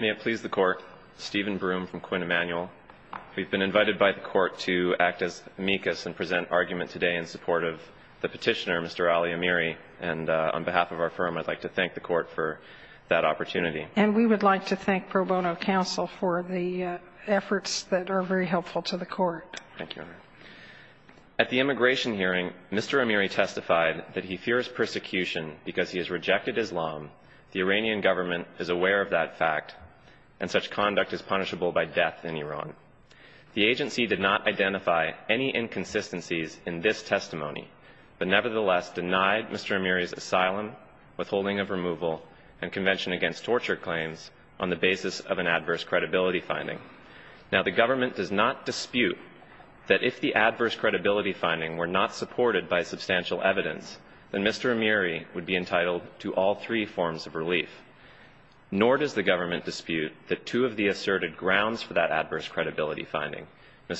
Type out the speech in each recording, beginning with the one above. May it please the Court, Stephen Broom from Quinn Emanuel. We've been invited by the Court to act as amicus and present argument today in support of the petitioner, Mr. Ali Amiri, and on behalf of our firm I'd like to thank the Court for that opportunity. And we would like to thank Pro Bono Council for the efforts that are very helpful to the Court. At the immigration hearing, Mr. Amiri testified that he fears persecution because he has rejected Islam. The Iranian government is aware of that fact, and such conduct is punishable by death in Iran. The agency did not identify any inconsistencies in this testimony, but nevertheless denied Mr. Amiri's asylum, withholding of removal, and convention against torture claims on the basis of an adverse credibility finding. Now, the government does not dispute that if the adverse credibility finding were not supported by substantial evidence, then Mr. Amiri would be entitled to all three forms of relief. Nor does the government dispute that two of the asserted grounds for that adverse credibility finding, the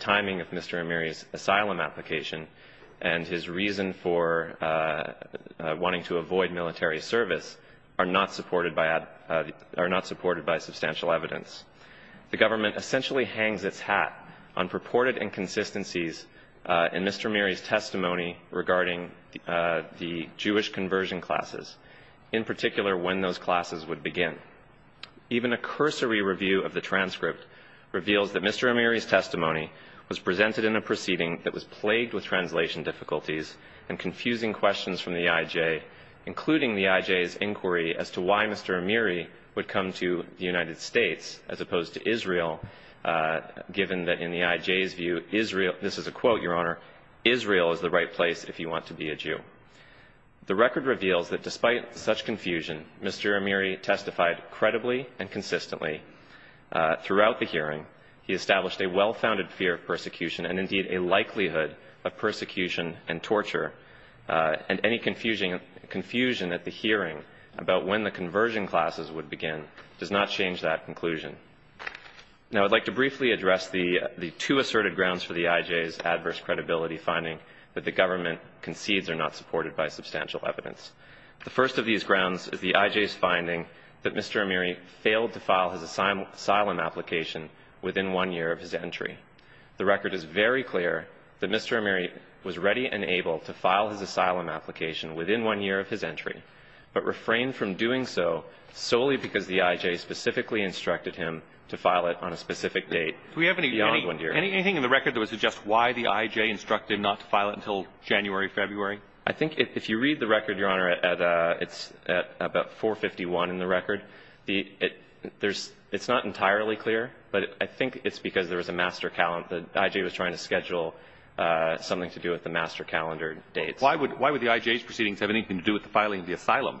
timing of Mr. Amiri's asylum application and his reason for wanting to avoid military service, are not supported by substantial evidence. The government essentially hangs its hat on purported inconsistencies in Mr. Amiri's testimony regarding the Jewish conversion classes, in particular when those classes would begin. Even a cursory review of the transcript reveals that Mr. Amiri's testimony was presented in a proceeding that was plagued with translation difficulties and confusing questions from the IJ, including the IJ's inquiry as to why Mr. Amiri would come to the United States as opposed to Israel, given that in the IJ's view, Israel is the right place if you want to be a Jew. The record reveals that despite such confusion, Mr. Amiri testified credibly and consistently throughout the hearing. He established a well-founded fear of persecution and indeed a likelihood of persecution and torture, and any confusion at the hearing about when the conversion classes would begin does not change that conclusion. Now I'd like to briefly address the two asserted grounds for the IJ's adverse credibility finding that the government concedes are not supported by substantial evidence. The first of these grounds is the IJ's finding that Mr. Amiri failed to file his asylum application within one year of his entry. The record is very clear that Mr. Amiri was ready and able to file his asylum application within one year of his entry, but refrained from doing so solely because the IJ specifically instructed him to file it on a specific date beyond one year. Do we have anything in the record that would suggest why the IJ instructed not to file it until January, February? I think if you read the record, Your Honor, it's about 4.51 in the record. It's not entirely clear, but I think it's because there was a master calendar. The IJ was trying to schedule something to do with the master calendar dates. Why would the IJ's proceedings have anything to do with the filing of the asylum?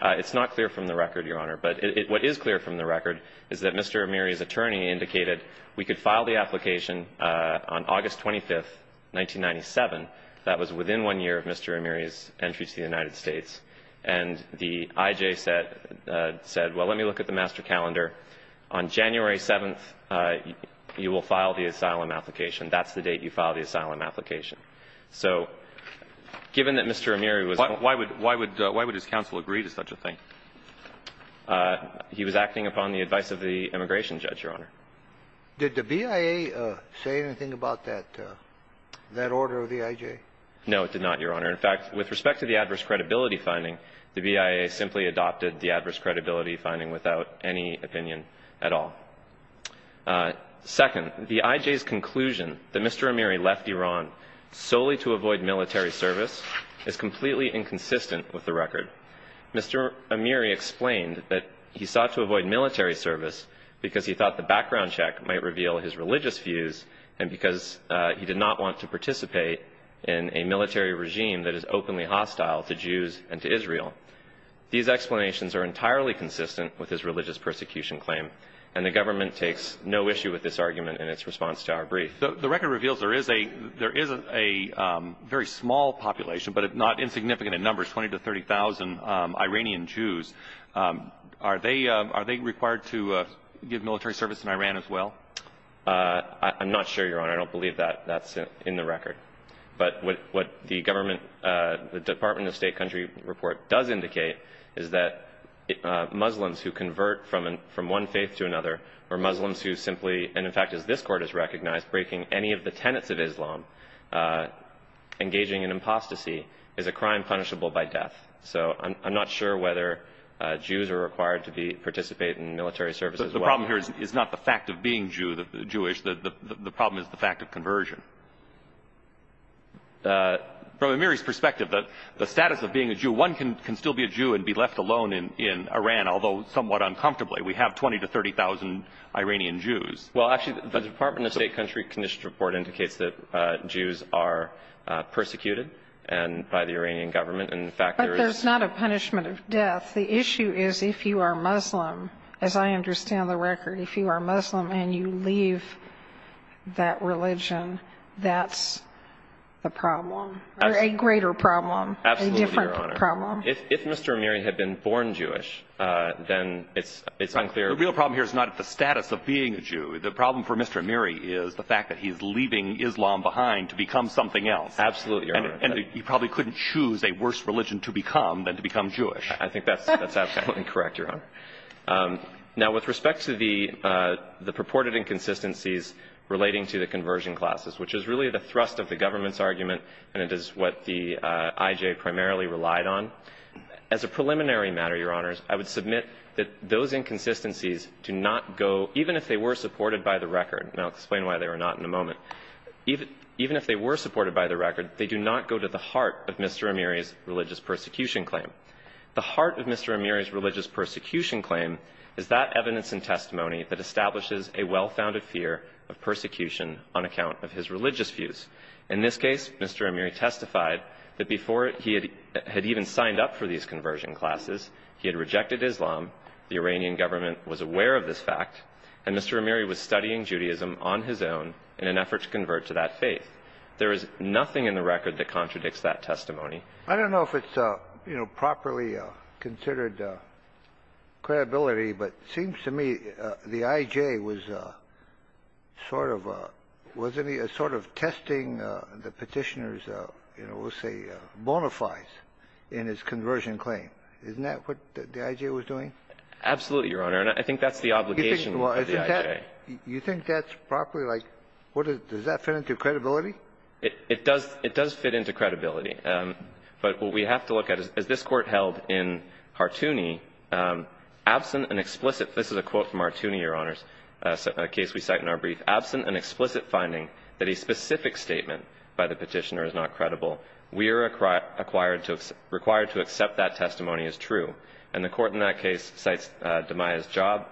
It's not clear from the record, Your Honor, but what is clear from the record is that Mr. Amiri's attorney indicated we could file the application on August 25, 1997. That was within one year of Mr. Amiri's entry to the United States. And the IJ said, well, let me look at the master calendar. On January 7th, you will file the asylum application. That's the date you filed the asylum application. So given that Mr. Amiri was going to be there, why would his counsel agree to such a thing? He was acting upon the advice of the immigration judge, Your Honor. Did the BIA say anything about that order of the IJ? No, it did not, Your Honor. In fact, with respect to the adverse credibility finding, the BIA simply adopted the adverse credibility finding without any opinion at all. Second, the IJ's conclusion that Mr. Amiri left Iran solely to avoid military service is completely inconsistent with the record. Mr. Amiri explained that he sought to avoid military service because he thought the background check might reveal his religious views and because he did not want to participate in a military regime that is openly hostile to Jews and to Israel. These explanations are entirely consistent with his religious persecution claim. And the government takes no issue with this argument in its response to our brief. The record reveals there is a very small population, but not insignificant in numbers, 20,000 to 30,000 Iranian Jews. Are they required to give military service in Iran as well? I'm not sure, Your Honor. I don't believe that that's in the record. But what the government, the Department of State country report does indicate is that Muslims who convert from one faith to another or Muslims who simply, and in fact as this court has recognized, breaking any of the tenets of Islam, engaging in apostasy, is a crime punishable by death. So I'm not sure whether Jews are required to participate in military service as well. The problem here is not the fact of being Jewish. The problem is the fact of conversion. From Amiri's perspective, the status of being a Jew, one can still be a Jew and be left alone in Iran, although somewhat uncomfortably. We have 20,000 to 30,000 Iranian Jews. Well, actually, the Department of State country conditions report indicates that Jews are persecuted by the Iranian government. But there's not a punishment of death. The issue is if you are Muslim, as I understand the record. If you are Muslim and you leave that religion, that's the problem, a greater problem, a different problem. If Mr. Amiri had been born Jewish, then it's unclear. The real problem here is not the status of being a Jew. The problem for Mr. Amiri is the fact that he's leaving Islam behind to become something else. Absolutely, Your Honor. And he probably couldn't choose a worse religion to become than to become Jewish. I think that's absolutely correct, Your Honor. Now, with respect to the purported inconsistencies relating to the conversion classes, which is really the thrust of the government's argument and it is what the IJ primarily relied on, as a preliminary matter, Your Honors, I would submit that those inconsistencies do not go, even if they were supported by the record, and I'll explain why they were not in a moment, even if they were supported by the record, they do not go to the heart of Mr. Amiri's religious persecution claim. The heart of Mr. Amiri's religious persecution claim is that evidence and testimony that establishes a well-founded fear of persecution on account of his religious views. In this case, Mr. Amiri testified that before he had even signed up for these conversion classes, he had rejected Islam, the Iranian government was aware of this fact, and Mr. Amiri was studying Judaism on his own in an effort to convert to that faith. There is nothing in the record that contradicts that testimony. I don't know if it's, you know, properly considered credibility, but it seems to me the IJ was sort of testing the Petitioner's, you know, we'll say, bona fides in his conversion claim. Isn't that what the IJ was doing? Absolutely, Your Honor, and I think that's the obligation of the IJ. You think that's properly, like, does that fit into credibility? It does fit into credibility. But what we have to look at is, as this Court held in Hartouni, absent an explicit, this is a quote from Hartouni, Your Honors, a case we cite in our brief, absent an explicit finding that a specific statement by the Petitioner is not credible, we are required to accept that testimony as true. And the Court in that case cites Damaya's job,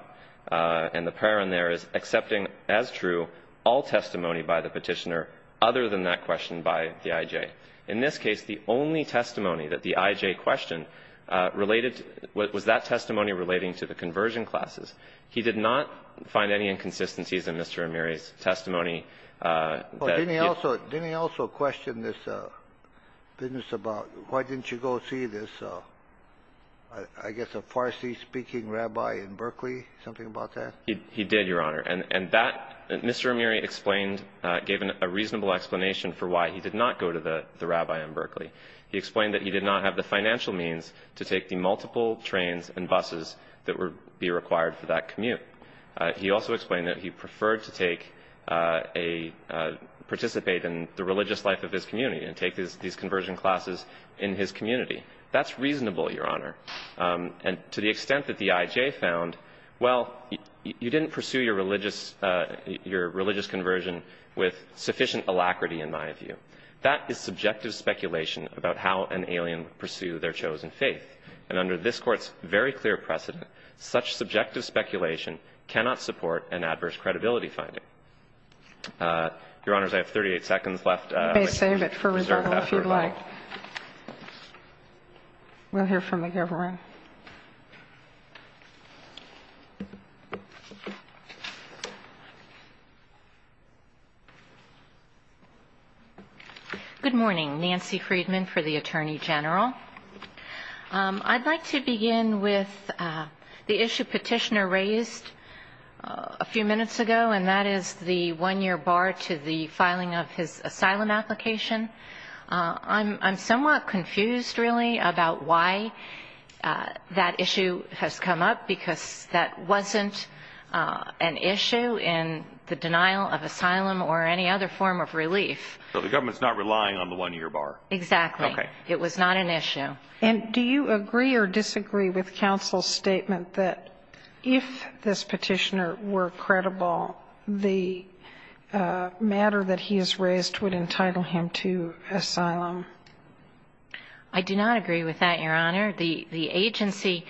and the prayer in there is accepting as true all testimony by the Petitioner other than that question by the IJ. In this case, the only testimony that the IJ questioned related, was that testimony relating to the conversion classes. He did not find any inconsistencies in Mr. Amiri's testimony. Didn't he also question this business about why didn't you go see this, I guess, a Farsi-speaking rabbi in Berkeley, something about that? He did, Your Honor, and that, Mr. Amiri explained, gave a reasonable explanation for why he did not go to the rabbi in Berkeley. He explained that he did not have the financial means to take the multiple trains and buses that would be required for that commute. He also explained that he preferred to participate in the religious life of his community and take these conversion classes in his community. That's reasonable, Your Honor, and to the extent that the IJ found, well, you didn't pursue your religious conversion with sufficient alacrity, in my view. That is subjective speculation about how an alien would pursue their chosen faith, and under this Court's very clear precedent, such subjective speculation cannot support an adverse credibility finding. Your Honors, I have 38 seconds left. You may save it for rebuttal, if you'd like. We'll hear from the government. Your Honor. Good morning. Nancy Friedman for the Attorney General. I'd like to begin with the issue Petitioner raised a few minutes ago, and that is the one-year bar to the filing of his asylum application. I'm somewhat confused, really, about why that issue has come up, because that wasn't an issue in the denial of asylum or any other form of relief. So the government's not relying on the one-year bar? Exactly. Okay. It was not an issue. And do you agree or disagree with counsel's statement that if this petitioner were credible, the matter that he has raised would entitle him to asylum? I do not agree with that, Your Honor. The agency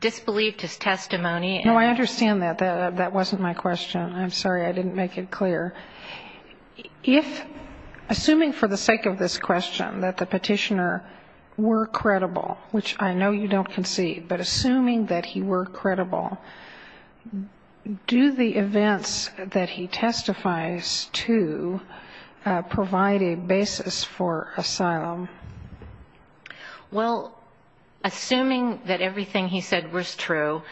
disbelieved his testimony. No, I understand that. That wasn't my question. I'm sorry I didn't make it clear. If, assuming for the sake of this question, that the petitioner were credible, which I know you don't concede, but assuming that he were credible, do the events that he testifies to provide a basis for asylum? Well, assuming that everything he said was true,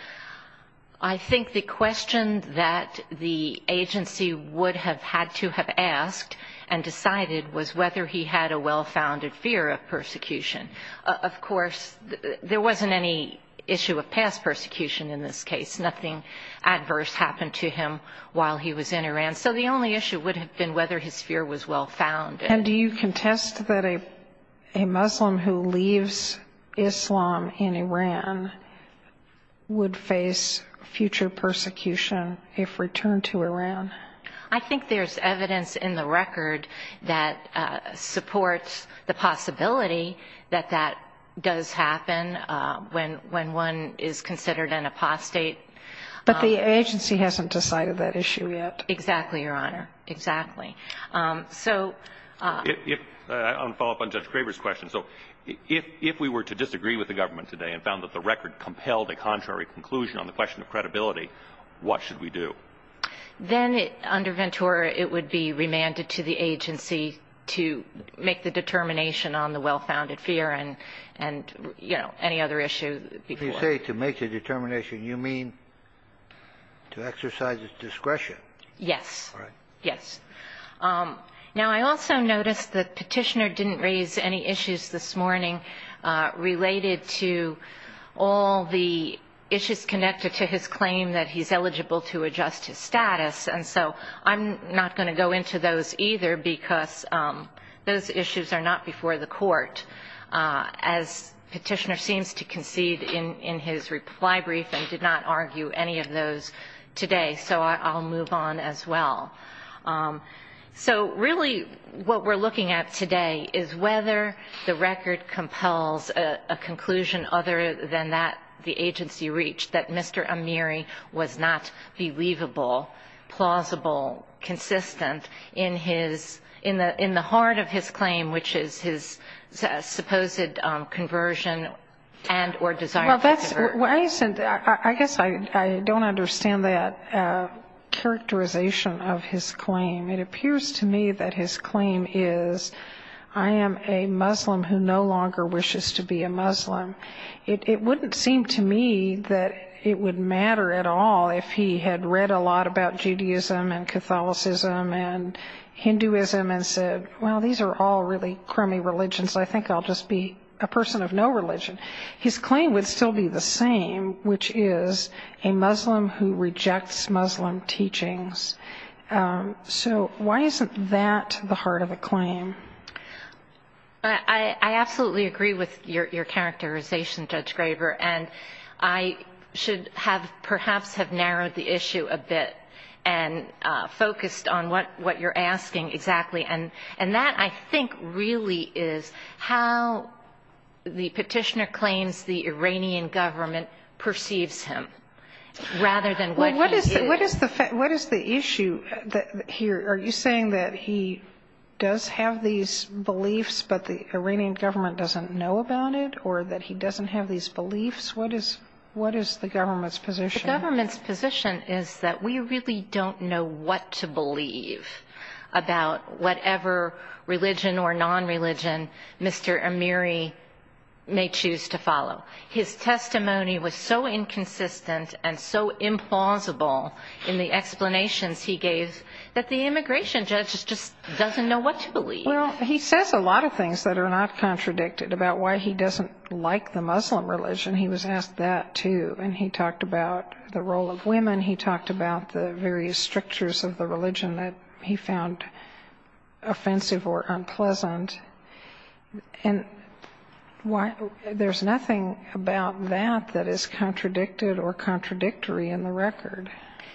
I think the question that the agency would have had to have asked and decided was whether he had a well-founded fear of persecution. Of course, there wasn't any issue of past persecution in this case. Nothing adverse happened to him while he was in Iran. So the only issue would have been whether his fear was well-founded. And do you contest that a Muslim who leaves Islam in Iran would face future persecution if returned to Iran? I think there's evidence in the record that supports the possibility that that does happen when one is considered an apostate. But the agency hasn't decided that issue yet. Exactly, Your Honor. Exactly. I want to follow up on Judge Craver's question. So if we were to disagree with the government today and found that the record compelled a contrary conclusion on the question of credibility, what should we do? Then under Ventura, it would be remanded to the agency to make the determination on the well-founded fear and, you know, any other issue before. If you say to make the determination, you mean to exercise its discretion? Yes. All right. Yes. Now, I also noticed the Petitioner didn't raise any issues this morning related to all the issues connected to his claim that he's eligible to adjust his status. And so I'm not going to go into those either because those issues are not before the court, as Petitioner seems to concede in his reply brief and did not argue any of those today. So I'll move on as well. So really what we're looking at today is whether the record compels a conclusion other than that the agency reached, that Mr. Amiri was not believable, plausible, consistent in the heart of his claim, which is his supposed conversion and or desire to divert. I guess I don't understand that characterization of his claim. It appears to me that his claim is, I am a Muslim who no longer wishes to be a Muslim. It wouldn't seem to me that it would matter at all if he had read a lot about Judaism and Catholicism and Hinduism and said, well, these are all really crummy religions. I think I'll just be a person of no religion. His claim would still be the same, which is a Muslim who rejects Muslim teachings. So why isn't that the heart of the claim? I absolutely agree with your characterization, Judge Graber, and I should have perhaps have narrowed the issue a bit and focused on what you're asking exactly. And that, I think, really is how the Petitioner claims the Iranian government perceives him rather than what he is. What is the issue here? Are you saying that he does have these beliefs but the Iranian government doesn't know about it or that he doesn't have these beliefs? What is the government's position? The government's position is that we really don't know what to believe about whatever religion or non-religion Mr. Amiri may choose to follow. His testimony was so inconsistent and so implausible in the explanations he gave that the immigration judge just doesn't know what to believe. Well, he says a lot of things that are not contradicted about why he doesn't like the Muslim religion. He was asked that, too, and he talked about the role of women. He talked about the various strictures of the religion that he found offensive or unpleasant. And there's nothing about that that is contradicted or contradictory in the record.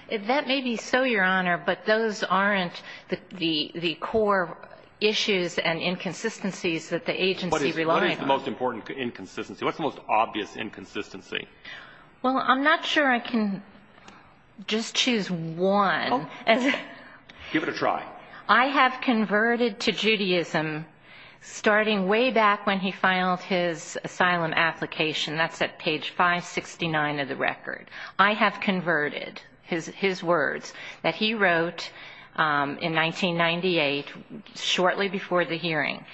That may be so, Your Honor, but those aren't the core issues and inconsistencies that the agency relied on. What is the most important inconsistency? What's the most obvious inconsistency? Well, I'm not sure I can just choose one. Give it a try. I have converted to Judaism starting way back when he filed his asylum application. That's at page 569 of the record. I have converted his words that he wrote in 1998 shortly before the hearing.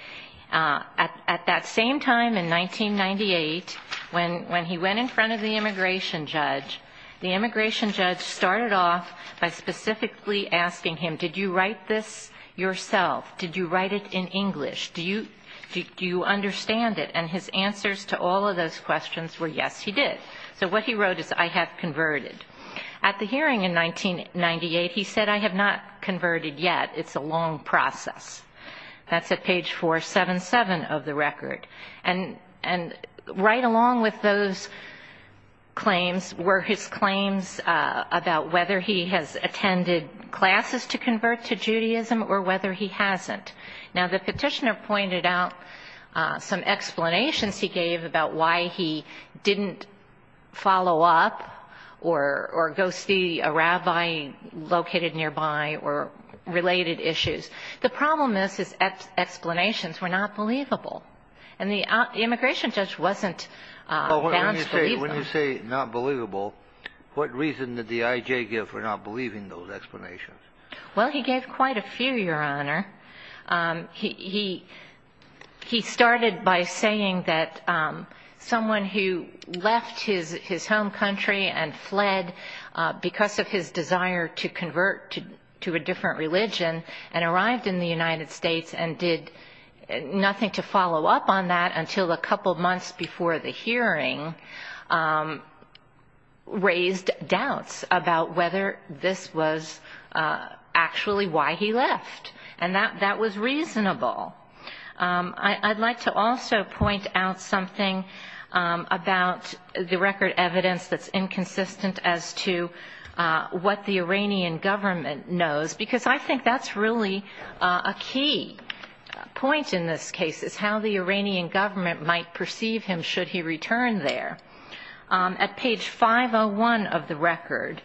At that same time in 1998, when he went in front of the immigration judge, the immigration judge started off by specifically asking him, did you write this yourself? Did you write it in English? Do you understand it? And his answers to all of those questions were, yes, he did. So what he wrote is, I have converted. At the hearing in 1998, he said, I have not converted yet. It's a long process. That's at page 477 of the record. And right along with those claims were his claims about whether he has attended classes to convert to Judaism or whether he hasn't. Now, the petitioner pointed out some explanations he gave about why he didn't follow up or go see a rabbi located nearby or related issues. The problem is his explanations were not believable. And the immigration judge wasn't bound to believe them. When you say not believable, what reason did the IJ give for not believing those explanations? Well, he gave quite a few, Your Honor. He started by saying that someone who left his home country and fled because of his desire to convert to a different religion and arrived in the United States and did nothing to follow up on that until a couple months before the hearing raised doubts about whether this was actually why he left. And that was reasonable. I'd like to also point out something about the record evidence that's inconsistent as to what the Iranian government knows, because I think that's really a key point in this case is how the Iranian government might perceive him should he return there. At page 501 of the record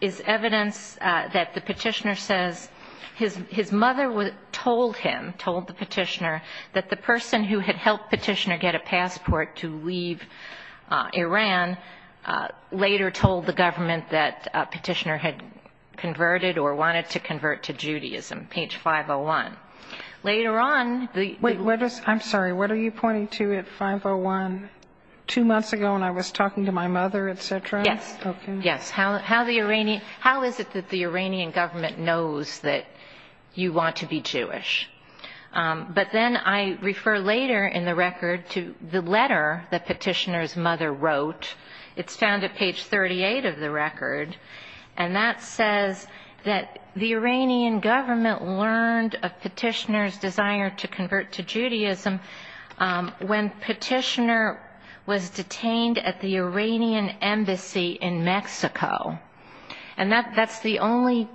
is evidence that the petitioner says his mother told him, told the petitioner, that the person who had helped petitioner get a passport to leave Iran later told the government that petitioner had converted or wanted to convert to Judaism, page 501. Later on the- I'm sorry. What are you pointing to at 501? Two months ago when I was talking to my mother, et cetera? Yes. Okay. Yes. How is it that the Iranian government knows that you want to be Jewish? But then I refer later in the record to the letter that petitioner's mother wrote. It's found at page 38 of the record. And that says that the Iranian government learned of petitioner's desire to convert to Judaism when petitioner was detained at the Iranian embassy in Mexico. And that's the only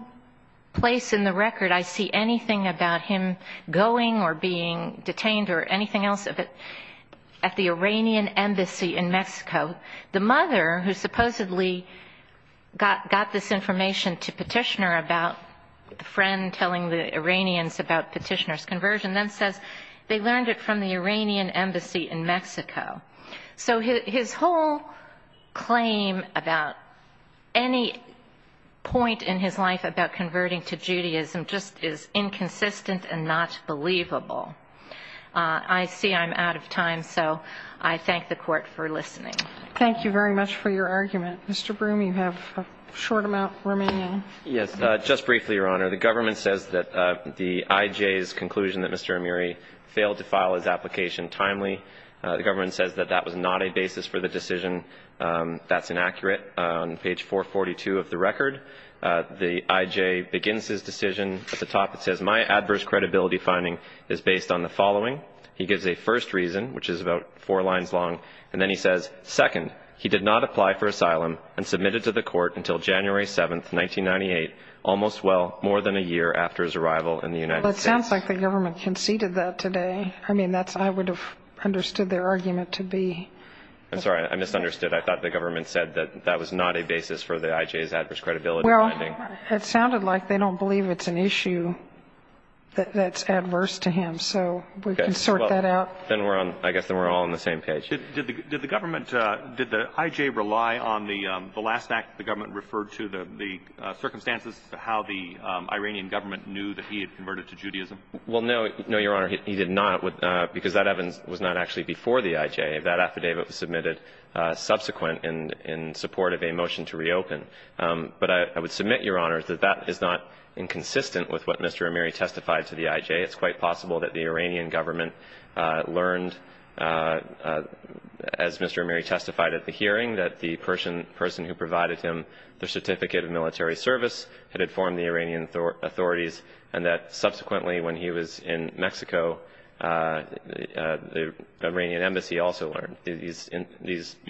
place in the record I see anything about him going or being detained or anything else at the Iranian embassy in Mexico. The mother who supposedly got this information to petitioner about the friend telling the Iranians about petitioner's conversion then says they learned it from the Iranian embassy in Mexico. So his whole claim about any point in his life about converting to Judaism just is inconsistent and not believable. I see I'm out of time, so I thank the Court for listening. Thank you very much for your argument. Mr. Broome, you have a short amount remaining. Yes. Just briefly, Your Honor. The government says that the IJ's conclusion that Mr. Amiri failed to file his application timely. The government says that that was not a basis for the decision. That's inaccurate. On page 442 of the record, the IJ begins his decision. At the top it says, My adverse credibility finding is based on the following. He gives a first reason, which is about four lines long. And then he says, Second, he did not apply for asylum and submitted to the court until January 7, 1998, almost, well, more than a year after his arrival in the United States. Well, it sounds like the government conceded that today. I mean, I would have understood their argument to be. I'm sorry. I misunderstood. I thought the government said that that was not a basis for the IJ's adverse credibility finding. It sounded like they don't believe it's an issue that's adverse to him. So we can sort that out. I guess then we're all on the same page. Did the government, did the IJ rely on the last act the government referred to, the circumstances how the Iranian government knew that he had converted to Judaism? Well, no. No, Your Honor. He did not, because that evidence was not actually before the IJ. That affidavit was submitted subsequent in support of a motion to reopen. But I would submit, Your Honor, that that is not inconsistent with what Mr. Amiri testified to the IJ. It's quite possible that the Iranian government learned, as Mr. Amiri testified at the hearing, that the person who provided him the certificate of military service had informed the Iranian authorities, and that subsequently when he was in Mexico, the Iranian embassy also learned. You're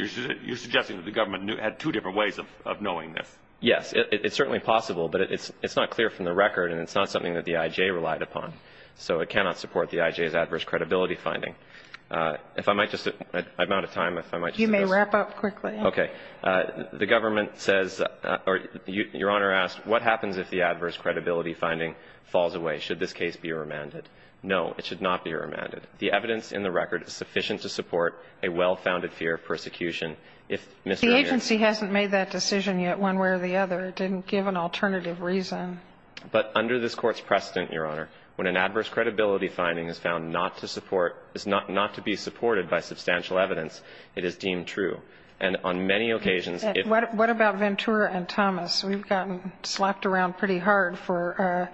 suggesting that the government had two different ways of knowing this? Yes. It's certainly possible, but it's not clear from the record, and it's not something that the IJ relied upon, so it cannot support the IJ's adverse credibility finding. If I might just, I'm out of time. You may wrap up quickly. Okay. The government says, or Your Honor asked, what happens if the adverse credibility finding falls away? Should this case be remanded? No, it should not be remanded. The evidence in the record is sufficient to support a well-founded fear of persecution. The agency hasn't made that decision yet one way or the other. It didn't give an alternative reason. But under this Court's precedent, Your Honor, when an adverse credibility finding is found not to be supported by substantial evidence, it is deemed true. And on many occasions, if – What about Ventura and Thomas? We've gotten slapped around pretty hard for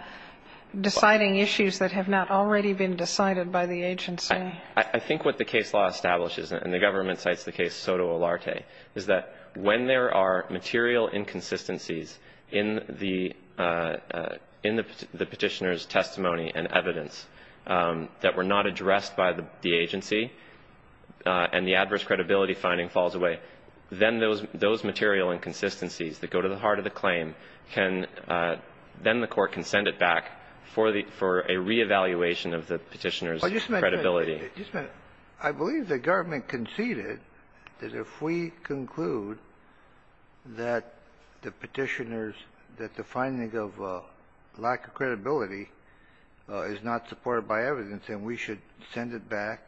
deciding issues that have not already been decided by the agency. I think what the case law establishes, and the government cites the case Soto Olarte, is that when there are material inconsistencies in the petitioner's testimony and evidence that were not addressed by the agency and the adverse credibility finding falls away, that then those material inconsistencies that go to the heart of the claim can – then the Court can send it back for a reevaluation of the petitioner's credibility. Just a minute. Just a minute. I believe the government conceded that if we conclude that the petitioner's – that the finding of lack of credibility is not supported by evidence, then we should send it back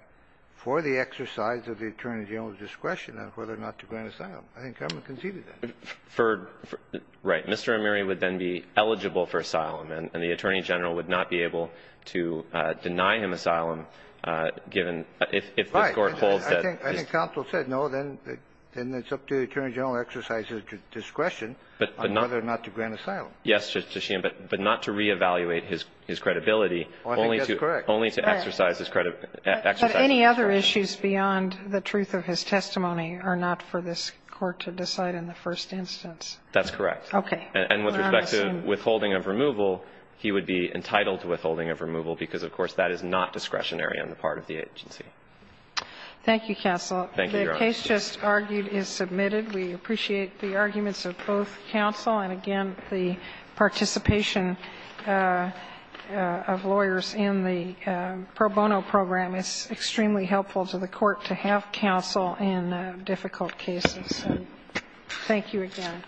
for the exercise of the Attorney General's discretion on whether or not to grant asylum. I think government conceded that. For – right. Mr. Amiri would then be eligible for asylum, and the Attorney General would not be able to deny him asylum, given – if the Court holds that – Right. I think counsel said, no, then it's up to the Attorney General to exercise his discretion on whether or not to grant asylum. I think that's correct. But any other issues beyond the truth of his testimony are not for this Court to decide in the first instance. That's correct. Okay. And with respect to withholding of removal, he would be entitled to withholding of removal because, of course, that is not discretionary on the part of the agency. Thank you, counsel. Thank you, Your Honor. The case just argued is submitted. We appreciate the arguments of both counsel and, again, the participation of lawyers in the pro bono program. It's extremely helpful to the Court to have counsel in difficult cases. Thank you again.